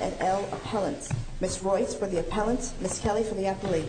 and L. Appellants. Ms. Royce for the appellants, Ms. Kelly for the appellate.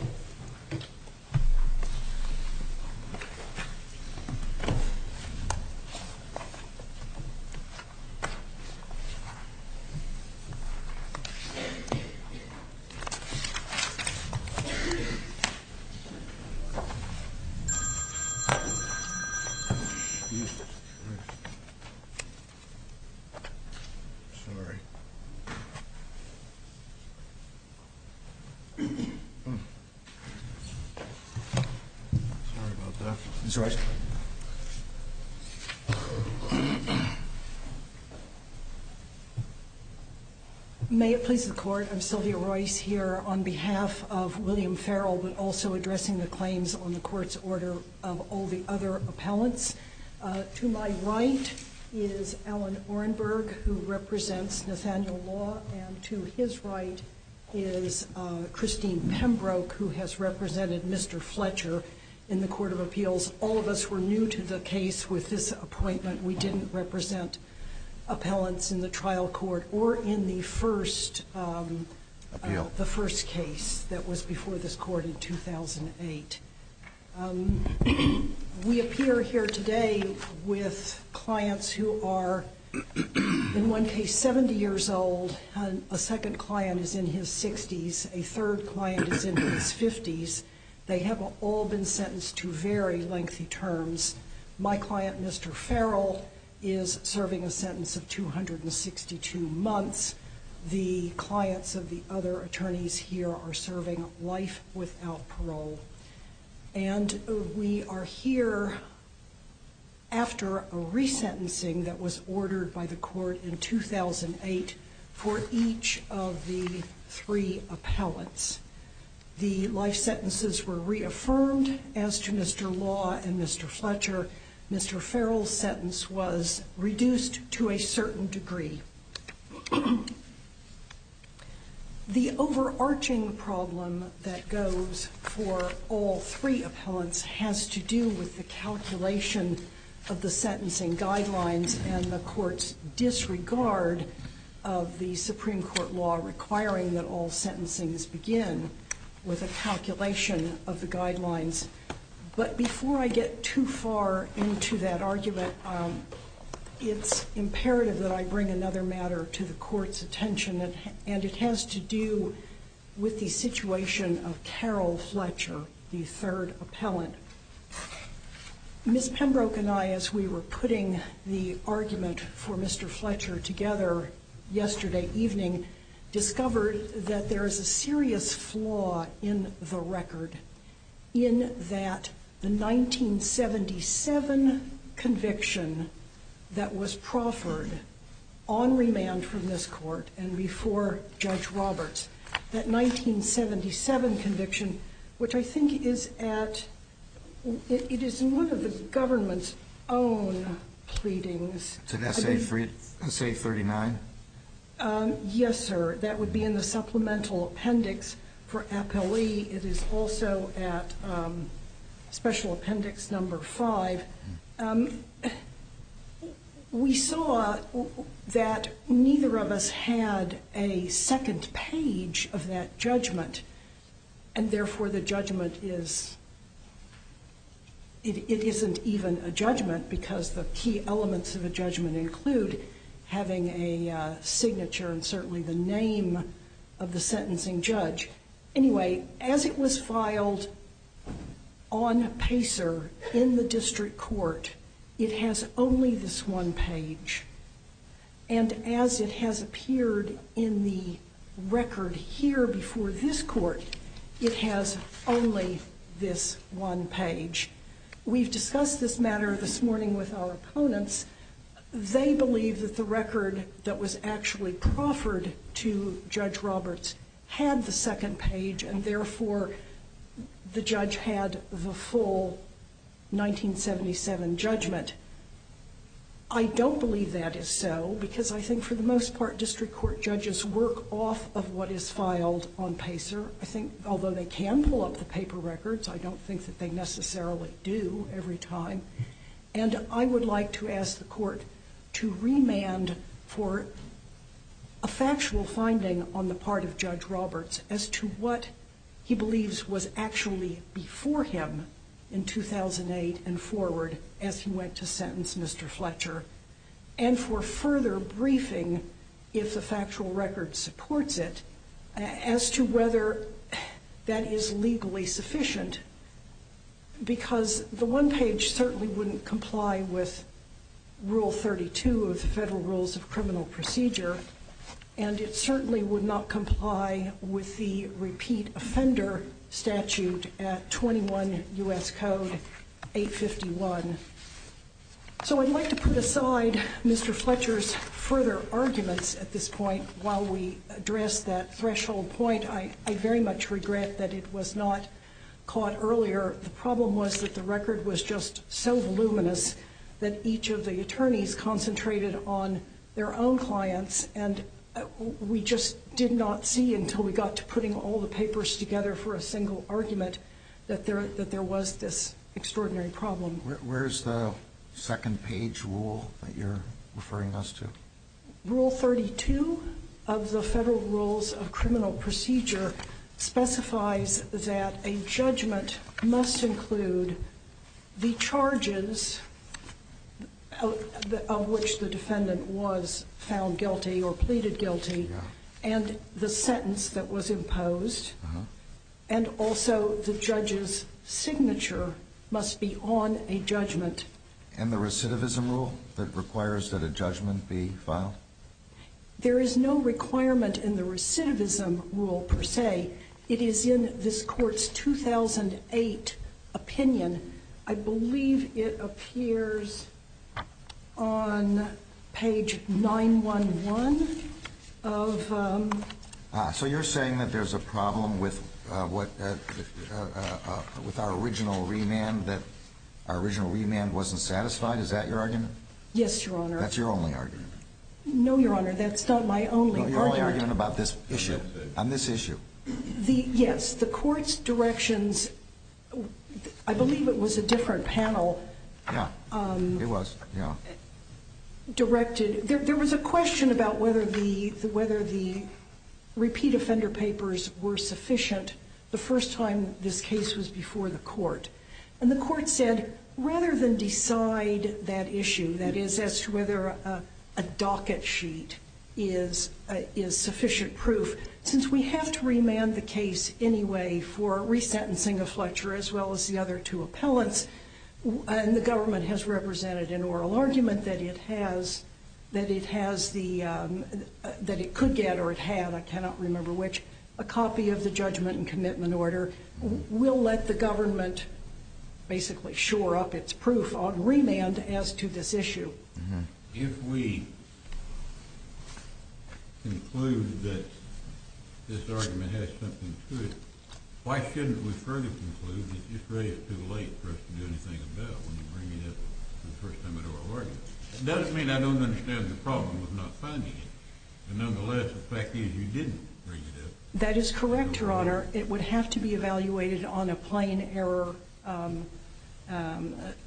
May it please the Court, I'm Sylvia Royce here on behalf of William Farrell, but also of all the other appellants. To my right is Alan Orenberg who represents Nathaniel Law and to his right is Christine Pembroke who has represented Mr. Fletcher in the Court of Appeals. All of us were new to the case with this appointment. We didn't represent appellants in the trial court or in the first case that was before this court in 2008. We appear here today with clients who are in one case 70 years old, a second client is in his 60s, a third client is in his 50s. They have all been sentenced to very lengthy terms. My client, Mr. Farrell, is serving a sentence of 262 months. The clients of the other attorneys here are serving life without parole. And we are here after a resentencing that was ordered by the court in 2008 for each of the three appellants. The life sentences were reaffirmed as to Mr. Law and Mr. Fletcher. Mr. Farrell's sentence was reduced to a certain degree. The overarching problem that goes for all three appellants has to do with the calculation of the sentencing guidelines and the court's disregard of the Supreme Court law requiring that all sentencings begin with a calculation of the guidelines. But before I get too far into that argument, it's imperative that I bring another matter to the court's attention and it has to do with the situation of Carol Fletcher, the third appellant. Ms. Pembroke and I, as we were putting the argument for Mr. Fletcher together yesterday evening, discovered that there is a serious flaw in the record in that the 1977 conviction that was proffered on remand from this court and before Judge Roberts, that 1977 conviction, which I think is at, it is in one of the government's own pleadings. Is it SA39? Yes, sir. That would be in the supplemental appendix for appellee. It is also at special appendix number five. We saw that neither of us had a second page of that judgment and therefore the judgment is, it isn't even a judgment because the key elements of a judgment include having a signature and certainly the name of the sentencing judge. Anyway, as it was filed on Pacer in the district court, it has only this one page. And as it has appeared in the record here before this court, it has only this one page. We've discussed this matter this morning with our opponents. They believe that the record that was actually proffered to Judge Roberts had the second page and therefore the judge had the full 1977 judgment. I don't believe that is so because I think for the most part district court judges work off of what is filed on Pacer. I think, although they can pull up the paper records, I don't think that they necessarily do every time. And I would like to ask the court to remand for a factual finding on the part of Judge Roberts as to what he believes was actually before him in 2008 and forward as he went to sentence Mr. Fletcher and for further briefing if the factual record supports it as to whether that is legally sufficient because the one page certainly wouldn't comply with Rule 32 of the Federal Rules of Criminal Procedure and it certainly would not comply with the repeat offender statute at 21 U.S. Code 851. So I'd like to put aside Mr. Fletcher's further arguments at this point while we address that threshold point. I very much regret that it was not caught earlier. The problem was that the record was just so voluminous that each of the attorneys concentrated on their own clients and we just did not see until we got to putting all the records together, a single argument, that there was this extraordinary problem. Where's the second page rule that you're referring us to? Rule 32 of the Federal Rules of Criminal Procedure specifies that a judgment must include the charges of which the defendant was found guilty or pleaded guilty and the sentence that was And also the judge's signature must be on a judgment. And the recidivism rule that requires that a judgment be filed? There is no requirement in the recidivism rule per se. It is in this Court's 2008 opinion. I believe it appears on page 911 of So you're saying that there's a problem with our original remand, that our original remand wasn't satisfied? Is that your argument? Yes, Your Honor. That's your only argument. No, Your Honor, that's not my only argument. No, your only argument about this issue. On this issue. Yes, the Court's directions, I believe it was a different panel. Yeah, it was. There was a question about whether the repeat offender papers were sufficient the first time this case was before the Court. And the Court said, rather than decide that issue, that is, as to whether a docket sheet is sufficient proof, since we have to remand the case anyway for resentencing a Fletcher as well as the other two appellants, and the government has represented an oral argument that it could get or it had, I cannot remember which, a copy of the judgment and commitment order will let the government basically shore up its proof on remand as to this issue. If we conclude that this argument has something to it, why shouldn't we further conclude that it's really too late for us to do anything about it when you bring it up for the first time in an oral argument? It doesn't mean I don't understand the problem with not finding it, but nonetheless, the fact is you didn't bring it up. That is correct, Your Honor. It would have to be evaluated on a plain error,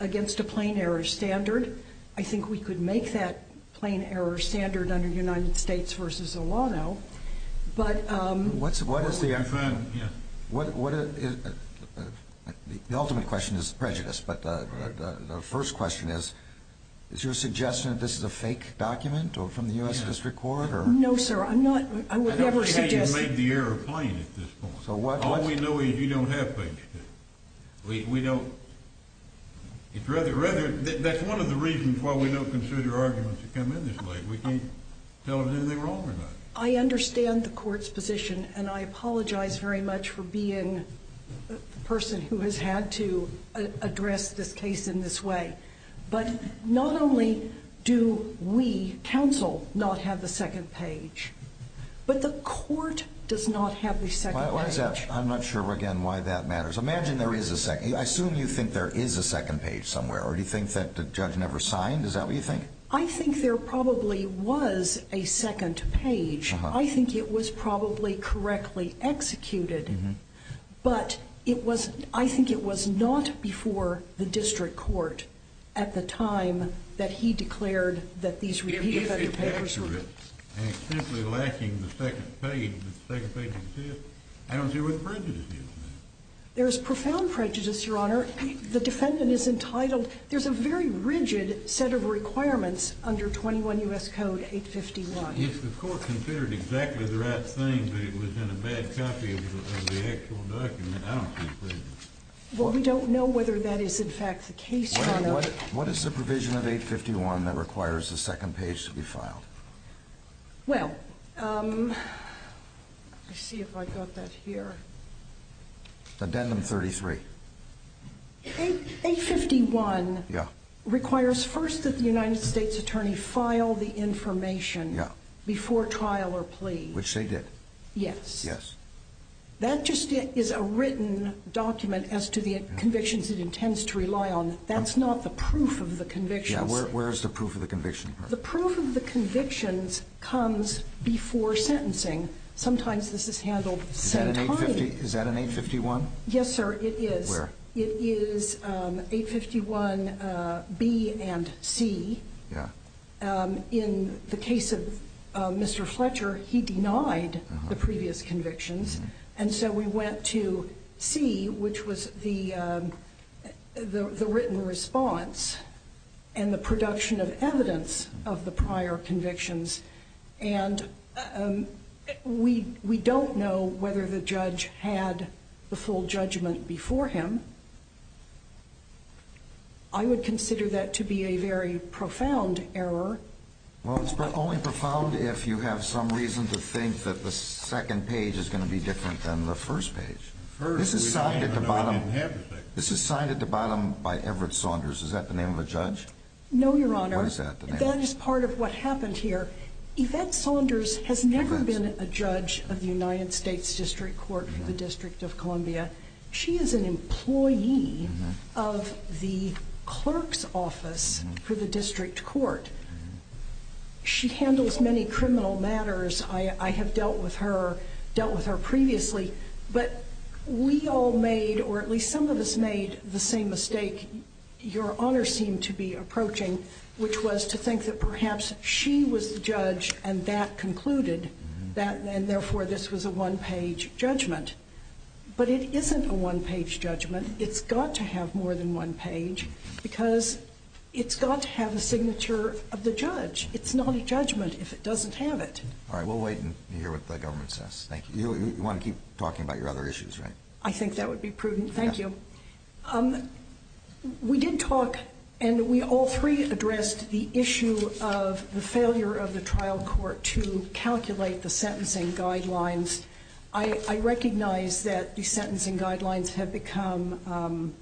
against a plain error standard. I think we could make that plain error standard under United States v. Olano, but... What is the ultimate question is prejudice, but the first question is, is your suggestion that this is a fake document from the U.S. District Court? No, sir, I'm not, I would never suggest... I don't think you've made the error plain at this point. All we know is you don't have prejudice. We don't... That's one of the reasons why we don't consider arguments to come in this way. We can't tell if they're wrong or not. I understand the court's position, and I apologize very much for being the person who has had to address this case in this way, but not only do we, counsel, not have the second page, but the court does not have the second page. Why is that? I'm not sure, again, why that matters. Imagine there is a second, I assume you think there is a second page somewhere, or do you think that the judge never signed? Is that what you think? I think there probably was a second page. I think it was probably correctly executed, but it was, I think it was not before the District Court at the time that he declared that these repeated... And it's simply lacking the second page. The second page exists. I don't see where the prejudice is in that. There is profound prejudice, Your Honor. The defendant is entitled... There's a very rigid set of requirements under 21 U.S. Code 851. If the court considered exactly the right thing, but it was in a bad copy of the actual document, I don't see prejudice. Well, we don't know whether that is, in fact, the case, Your Honor. What is the provision of 851 that requires the second page to be filed? Well, let's see if I got that here. Addendum 33. 851 requires first that the United States Attorney file the information before trial or plea. Which they did. Yes. Yes. That just is a written document as to the convictions it intends to rely on. That's not the proof of the convictions. Yeah, where is the proof of the conviction? The proof of the convictions comes before sentencing. Sometimes this is handled at the same time. Is that an 851? Yes, sir, it is. Where? It is 851 B and C. Yeah. In the case of Mr. Fletcher, he denied the previous convictions. And so we went to C, which was the written response and the production of evidence of the prior convictions. And we don't know whether the judge had the full judgment before him. I would consider that to be a very profound error. Well, it's only profound if you have some reason to think that the second page is going to be different than the first page. This is signed at the bottom by Everett Saunders. Is that the name of a judge? No, Your Honor. What is that? That is part of what happened here. Yvette Saunders has never been a judge of the United States District Court for the District of Columbia. She is an employee of the clerk's office for the District Court. She handles many criminal matters. I have dealt with her previously. But we all made, or at least some of us made, the same mistake Your Honor seemed to be approaching, which was to think that perhaps she was the judge and that concluded. And therefore, this was a one-page judgment. But it isn't a one-page judgment. It's got to have more than one page because it's got to have a signature of the judge. It's not a judgment if it doesn't have it. All right, we'll wait and hear what the government says. Thank you. You want to keep talking about your other issues, right? I think that would be prudent. Thank you. We did talk and we all three addressed the issue of the failure of the trial court to calculate the sentencing guidelines. I recognize that the sentencing guidelines have become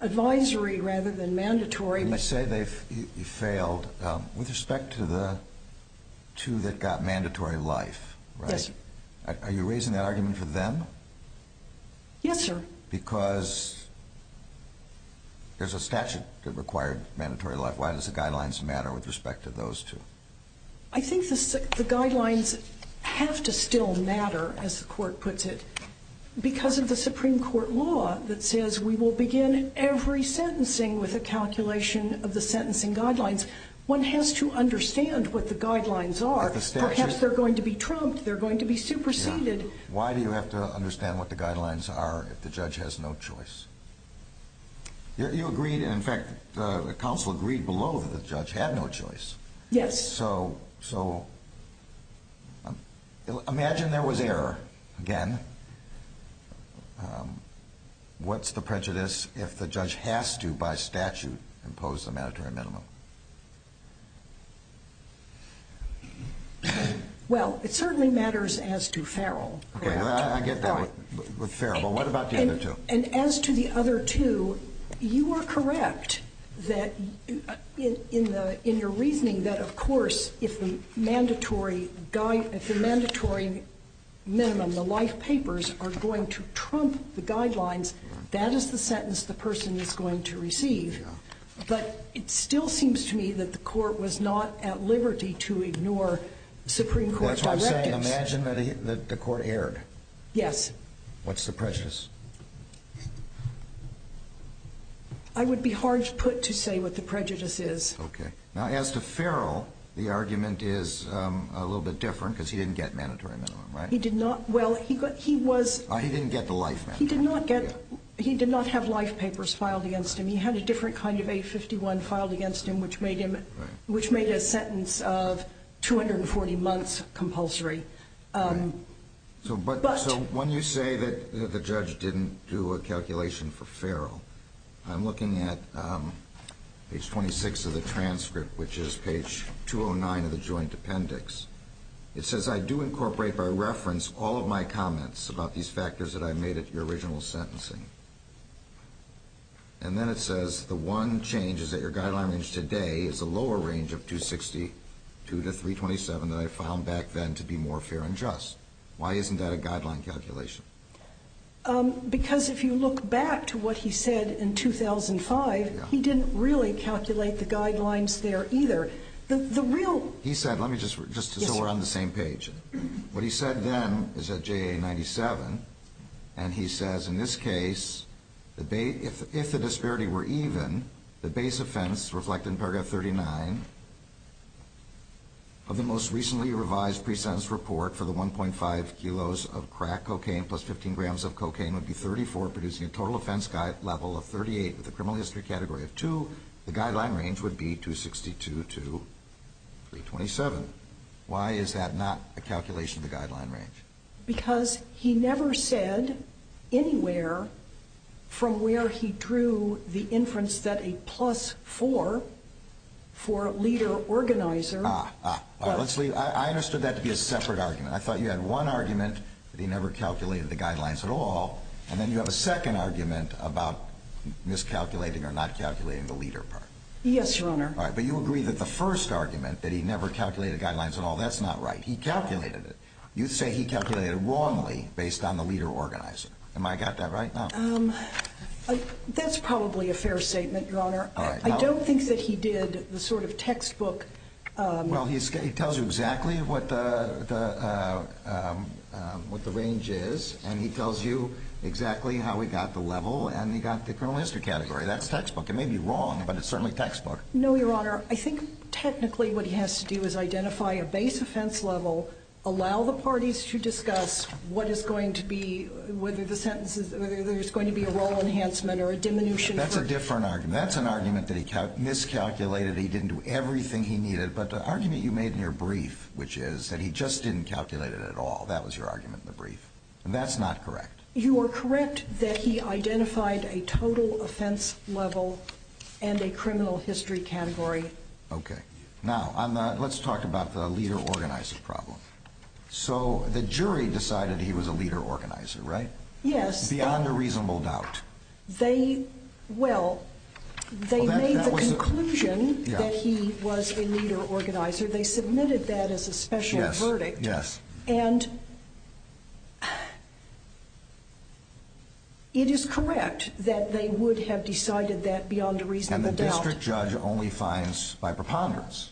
advisory rather than mandatory. And they say they failed with respect to the two that got mandatory life, right? Yes, sir. Are you raising that argument for them? Yes, sir. Because there's a statute that required mandatory life. Why does the guidelines matter with respect to those two? I think the guidelines have to still matter, as the court puts it, because of the Supreme Court law that says we will begin every sentencing with a calculation of the sentencing guidelines. One has to understand what the guidelines are. Perhaps they're going to be trumped. They're going to be superseded. Why do you have to understand what the guidelines are if the judge has no choice? You agreed and, in fact, the counsel agreed below that the judge had no choice. Yes. So imagine there was error again. What's the prejudice if the judge has to, by statute, impose the mandatory minimum? Well, it certainly matters as to Farrell, correct? I get that with Farrell, but what about the other two? And as to the other two, you are correct in your reasoning that, of course, if the mandatory minimum, the life papers, are going to trump the guidelines, that is the sentence the person is going to receive. But it still seems to me that the court was not at liberty to ignore Supreme Court directives. That's what I'm saying. Imagine that the court erred. Yes. What's the prejudice? I would be hard put to say what the prejudice is. Okay. Now, as to Farrell, the argument is a little bit different because he didn't get mandatory minimum, right? He did not. Well, he was... He didn't get the life minimum. He did not have life papers filed against him. He had a different kind of 851 filed against him, which made a sentence of 240 months compulsory. So when you say that the judge didn't do a calculation for Farrell, I'm looking at page 26 of the transcript, which is page 209 of the joint appendix. It says, I do incorporate by reference all of my comments about these factors that I made at your original sentencing. And then it says, the one change is that your guideline range today is a lower range of 262 to 327 than I found back then to be more fair and just. Why isn't that a guideline calculation? Because if you look back to what he said in 2005, he didn't really calculate the guidelines there either. The real... He said, let me just... so we're on the same page. What he said then is at JA 97, and he says, in this case, if the disparity were even, the base offense reflected in paragraph 39 of the most recently revised pre-sentence report for the 1.5 kilos of crack cocaine plus 15 grams of cocaine would be 34, producing a total offense level of 38 with a criminal history category of 2. The guideline range would be 262 to 327. Why is that not a calculation of the guideline range? Because he never said anywhere from where he drew the inference that a plus 4 for leader organizer... Ah, ah. I understood that to be a separate argument. I thought you had one argument that he never calculated the guidelines at all, and then you have a second argument about miscalculating or not calculating the leader part. Yes, Your Honor. But you agree that the first argument, that he never calculated guidelines at all, that's not right. He calculated it. You say he calculated it wrongly based on the leader organizer. Am I got that right? No. That's probably a fair statement, Your Honor. I don't think that he did the sort of textbook... Well, he tells you exactly what the range is, and he tells you exactly how he got the level, and he got the criminal history category. That's textbook. It may be wrong, but it's certainly textbook. No, Your Honor. I think technically what he has to do is identify a base offense level, allow the parties to discuss whether there's going to be a role enhancement or a diminution... That's a different argument. That's an argument that he miscalculated, he didn't do everything he needed. But the argument you made in your brief, which is that he just didn't calculate it at all, that was your argument in the brief, and that's not correct. You are correct that he identified a total offense level and a criminal history category. Okay. Now, let's talk about the leader organizer problem. So the jury decided he was a leader organizer, right? Yes. Beyond a reasonable doubt. Well, they made the conclusion that he was a leader organizer. They submitted that as a special verdict. Yes. And it is correct that they would have decided that beyond a reasonable doubt. And the district judge only finds by preponderance.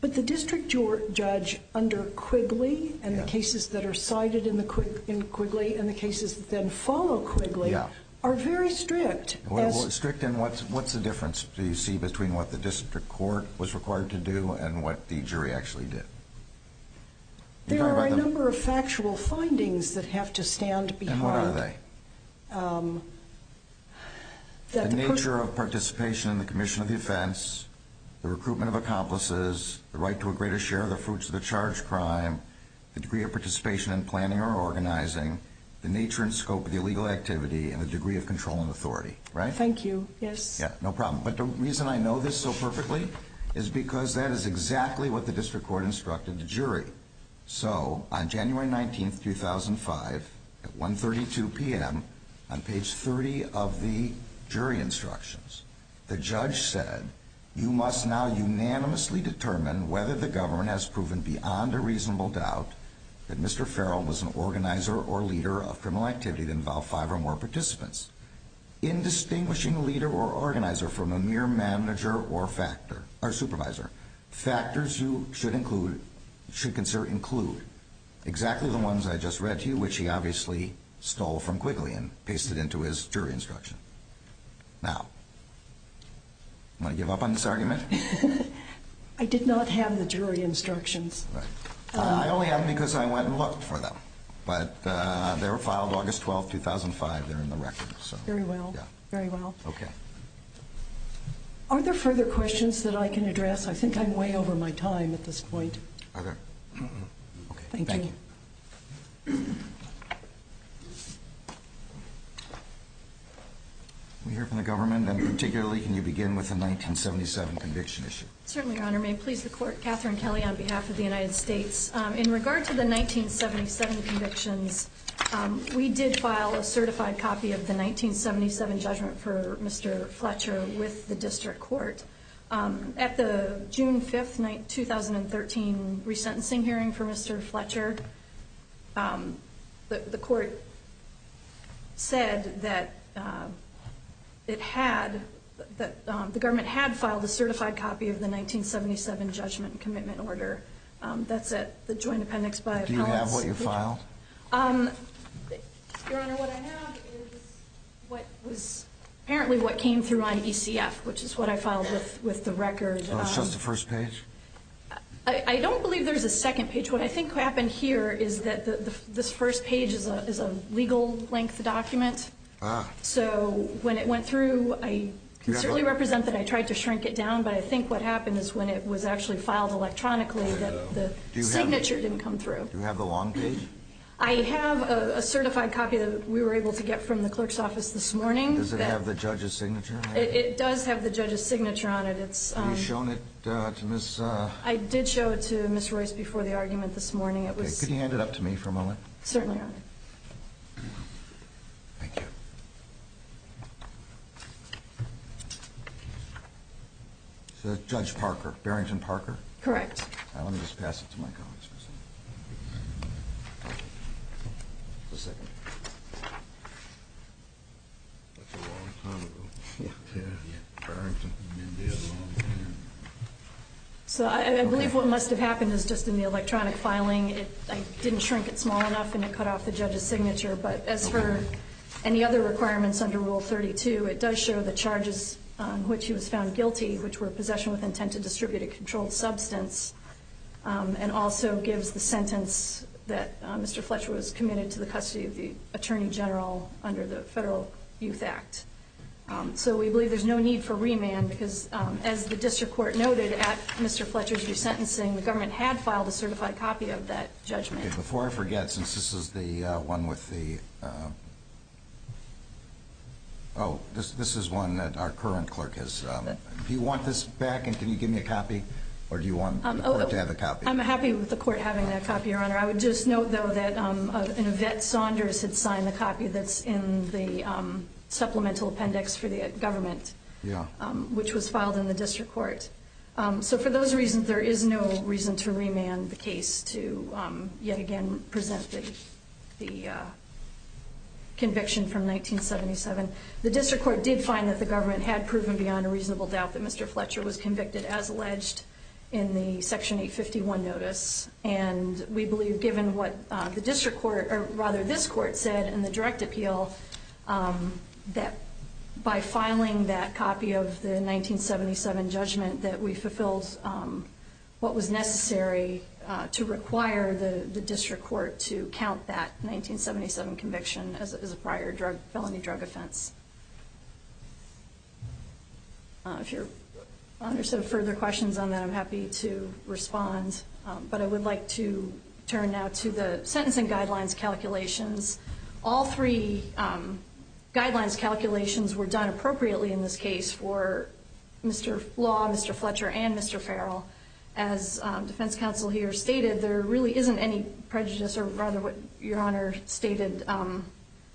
But the district judge under Quigley and the cases that are cited in Quigley and the cases that then follow Quigley are very strict. What's the difference, do you see, between what the district court was required to do and what the jury actually did? There are a number of factual findings that have to stand behind... And what are they? The nature of participation in the commission of the offense, the recruitment of accomplices, the right to a greater share of the fruits of the charge crime, the degree of participation in planning or organizing, the nature and scope of the illegal activity, and the degree of control and authority, right? Thank you. Yes. No problem. But the reason I know this so perfectly is because that is exactly what the district court instructed the jury. So on January 19, 2005, at 1.32 p.m., on page 30 of the jury instructions, the judge said, You must now unanimously determine whether the government has proven beyond a reasonable doubt that Mr. Farrell was an organizer or leader of criminal activity that involved five or more participants. In distinguishing a leader or organizer from a mere manager or supervisor, factors you should consider include exactly the ones I just read to you, which he obviously stole from Quigley and pasted into his jury instruction. Now, want to give up on this argument? I did not have the jury instructions. I only have them because I went and looked for them. But they were filed August 12, 2005. They're in the record. Very well. Very well. Okay. Are there further questions that I can address? I think I'm way over my time at this point. Are there? Thank you. Can we hear from the government? And particularly, can you begin with the 1977 conviction issue? Certainly, Your Honor. May it please the Court. Catherine Kelly on behalf of the United States. In regard to the 1977 convictions, we did file a certified copy of the 1977 judgment for Mr. Fletcher with the district court. At the June 5, 2013, resentencing hearing for Mr. Fletcher, the court said that it had, that the government had filed a certified copy of the 1977 judgment commitment order. That's at the Joint Appendix by Appellants. Do you have what you filed? Your Honor, what I have is what was apparently what came through on ECF, which is what I filed with the record. So it's just the first page? I don't believe there's a second page. What I think happened here is that this first page is a legal length document. Ah. So when it went through, I can certainly represent that I tried to shrink it down, but I think what happened is when it was actually filed electronically that the signature didn't come through. Do you have the long page? I have a certified copy that we were able to get from the clerk's office this morning. Does it have the judge's signature on it? It does have the judge's signature on it. Have you shown it to Ms.? I did show it to Ms. Royce before the argument this morning. Could you hand it up to me for a moment? Certainly, Your Honor. Thank you. Judge Parker, Barrington Parker? Correct. Let me just pass it to my colleagues real quick. Just a second. That's a long time ago. Yeah. So I believe what must have happened is just in the electronic filing, I didn't shrink it small enough and it cut off the judge's signature. But as for any other requirements under Rule 32, it does show the charges on which he was found guilty, which were possession with intent to distribute a controlled substance, and also gives the sentence that Mr. Fletcher was committed to the custody of the attorney general under the Federal Youth Act. So we believe there's no need for remand, because as the district court noted at Mr. Fletcher's resentencing, the government had filed a certified copy of that judgment. Before I forget, since this is the one with the – oh, this is one that our current clerk has – do you want this back and can you give me a copy or do you want the court to have a copy? I'm happy with the court having that copy, Your Honor. I would just note, though, that Yvette Saunders had signed the copy that's in the supplemental appendix for the government, which was filed in the district court. So for those reasons, there is no reason to remand the case to yet again present the conviction from 1977. The district court did find that the government had proven beyond a reasonable doubt that Mr. Fletcher was convicted as alleged in the Section 851 notice, and we believe given what the district court – or rather this court said in the direct appeal, that by filing that copy of the 1977 judgment, that we fulfilled what was necessary to require the district court to count that 1977 conviction as a prior felony drug offense. If Your Honor has further questions on that, I'm happy to respond. But I would like to turn now to the sentencing guidelines calculations. All three guidelines calculations were done appropriately in this case for Mr. Law, Mr. Fletcher, and Mr. Farrell. As defense counsel here stated, there really isn't any prejudice or rather what Your Honor stated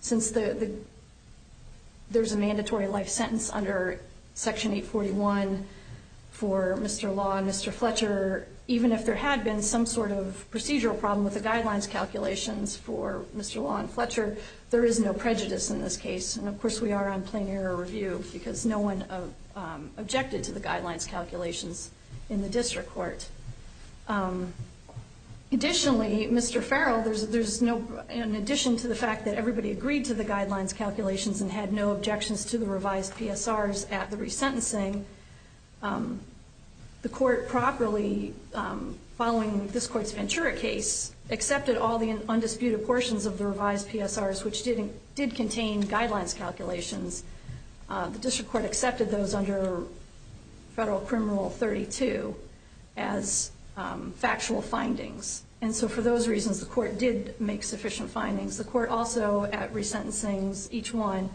since there's a mandatory life sentence under Section 841 for Mr. Law and Mr. Fletcher, even if there had been some sort of procedural problem with the guidelines calculations for Mr. Law and Fletcher, there is no prejudice in this case. And of course we are on plain error review because no one objected to the guidelines calculations in the district court. Additionally, Mr. Farrell, there's no – in addition to the fact that everybody agreed to the guidelines calculations and had no objections to the revised PSRs at the resentencing, the court properly, following this court's Ventura case, accepted all the undisputed portions of the revised PSRs which did contain guidelines calculations. The district court accepted those under Federal Criminal 32 as factual findings. And so for those reasons the court did make sufficient findings. The court also at resentencings, each one,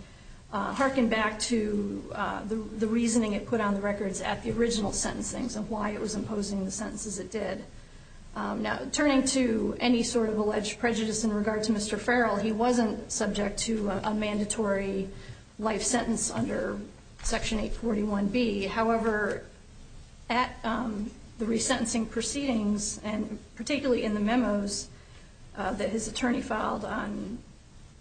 hearkened back to the reasoning it put on the records at the original sentencing of why it was imposing the sentences it did. Now, turning to any sort of alleged prejudice in regard to Mr. Farrell, he wasn't subject to a mandatory life sentence under Section 841B. However, at the resentencing proceedings and particularly in the memos that his attorney filed on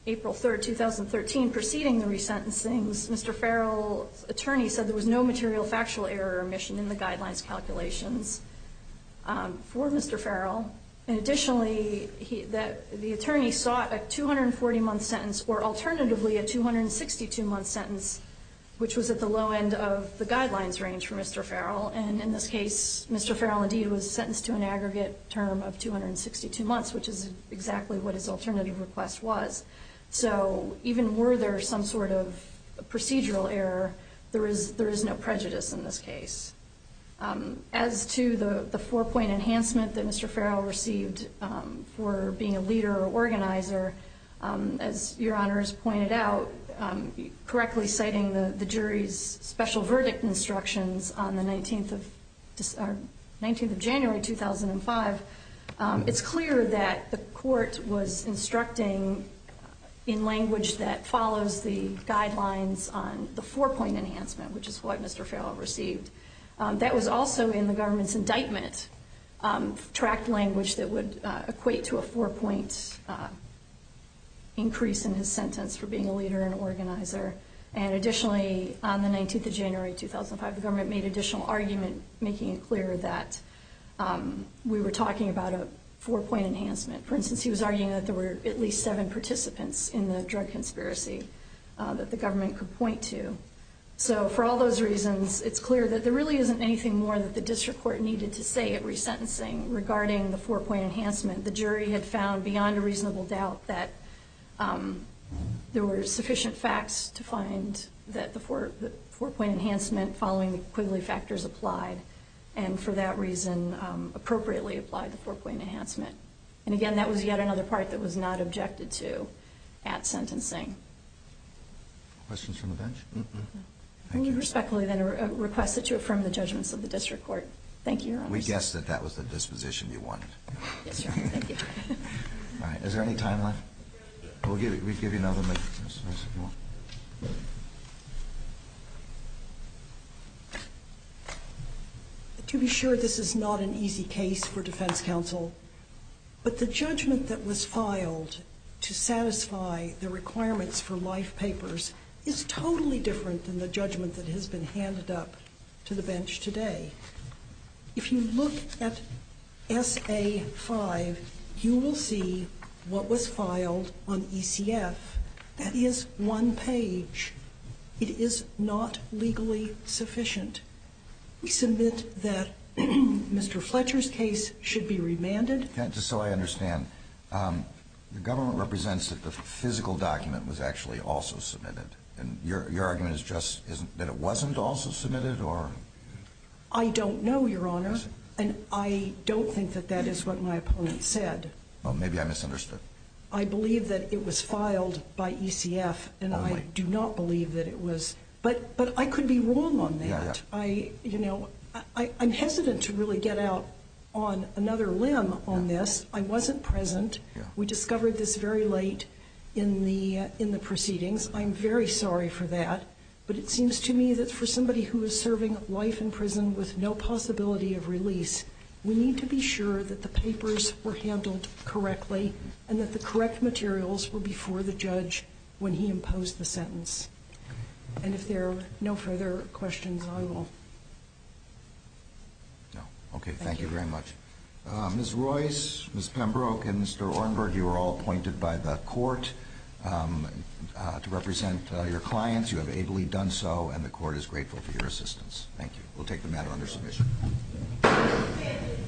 April 3rd, 2013, preceding the resentencing, Mr. Farrell's attorney said there was no material factual error omission in the guidelines calculations for Mr. Farrell. And additionally, the attorney sought a 240-month sentence or alternatively a 262-month sentence, which was at the low end of the guidelines range for Mr. Farrell. And in this case, Mr. Farrell indeed was sentenced to an aggregate term of 262 months, which is exactly what his alternative request was. So even were there some sort of procedural error, there is no prejudice in this case. As to the four-point enhancement that Mr. Farrell received for being a leader or organizer, as Your Honor has pointed out, correctly citing the jury's special verdict instructions on the 19th of January, 2005, it's clear that the court was instructing in language that follows the guidelines on the four-point enhancement, which is what Mr. Farrell received. That was also in the government's indictment tract language that would equate to a four-point increase in his sentence for being a leader and organizer. And additionally, on the 19th of January, 2005, the government made additional argument making it clear that we were talking about a four-point enhancement. For instance, he was arguing that there were at least seven participants in the drug conspiracy that the government could point to. So for all those reasons, it's clear that there really isn't anything more that the district court needed to say at resentencing regarding the four-point enhancement. The jury had found beyond a reasonable doubt that there were sufficient facts to find that the four-point enhancement following the Quigley factors applied, and for that reason appropriately applied the four-point enhancement. And again, that was yet another part that was not objected to at sentencing. Questions from the bench? I respectfully request that you affirm the judgments of the district court. Thank you, Your Honor. We guessed that that was the disposition you wanted. Yes, Your Honor. Thank you. All right. Is there any time left? We'll give you another minute. To be sure, this is not an easy case for defense counsel, but the judgment that was filed to satisfy the requirements for life papers is totally different than the judgment that has been handed up to the bench today. If you look at S.A. 5, you will see what was filed on ECF. That is one page. It is not legally sufficient. We submit that Mr. Fletcher's case should be remanded. Just so I understand, the government represents that the physical document was actually also submitted, and your argument is just that it wasn't also submitted? I don't know, Your Honor, and I don't think that that is what my opponent said. Well, maybe I misunderstood. I believe that it was filed by ECF, and I do not believe that it was. But I could be wrong on that. I'm hesitant to really get out on another limb on this. I wasn't present. We discovered this very late in the proceedings. I'm very sorry for that, but it seems to me that for somebody who is serving life in prison with no possibility of release, we need to be sure that the papers were handled correctly and that the correct materials were before the judge when he imposed the sentence. And if there are no further questions, I will. Okay, thank you very much. Ms. Royce, Ms. Pembroke, and Mr. Ornberg, you are all appointed by the court to represent your clients. You have ably done so, and the court is grateful for your assistance. Thank you. We'll take the matter under submission.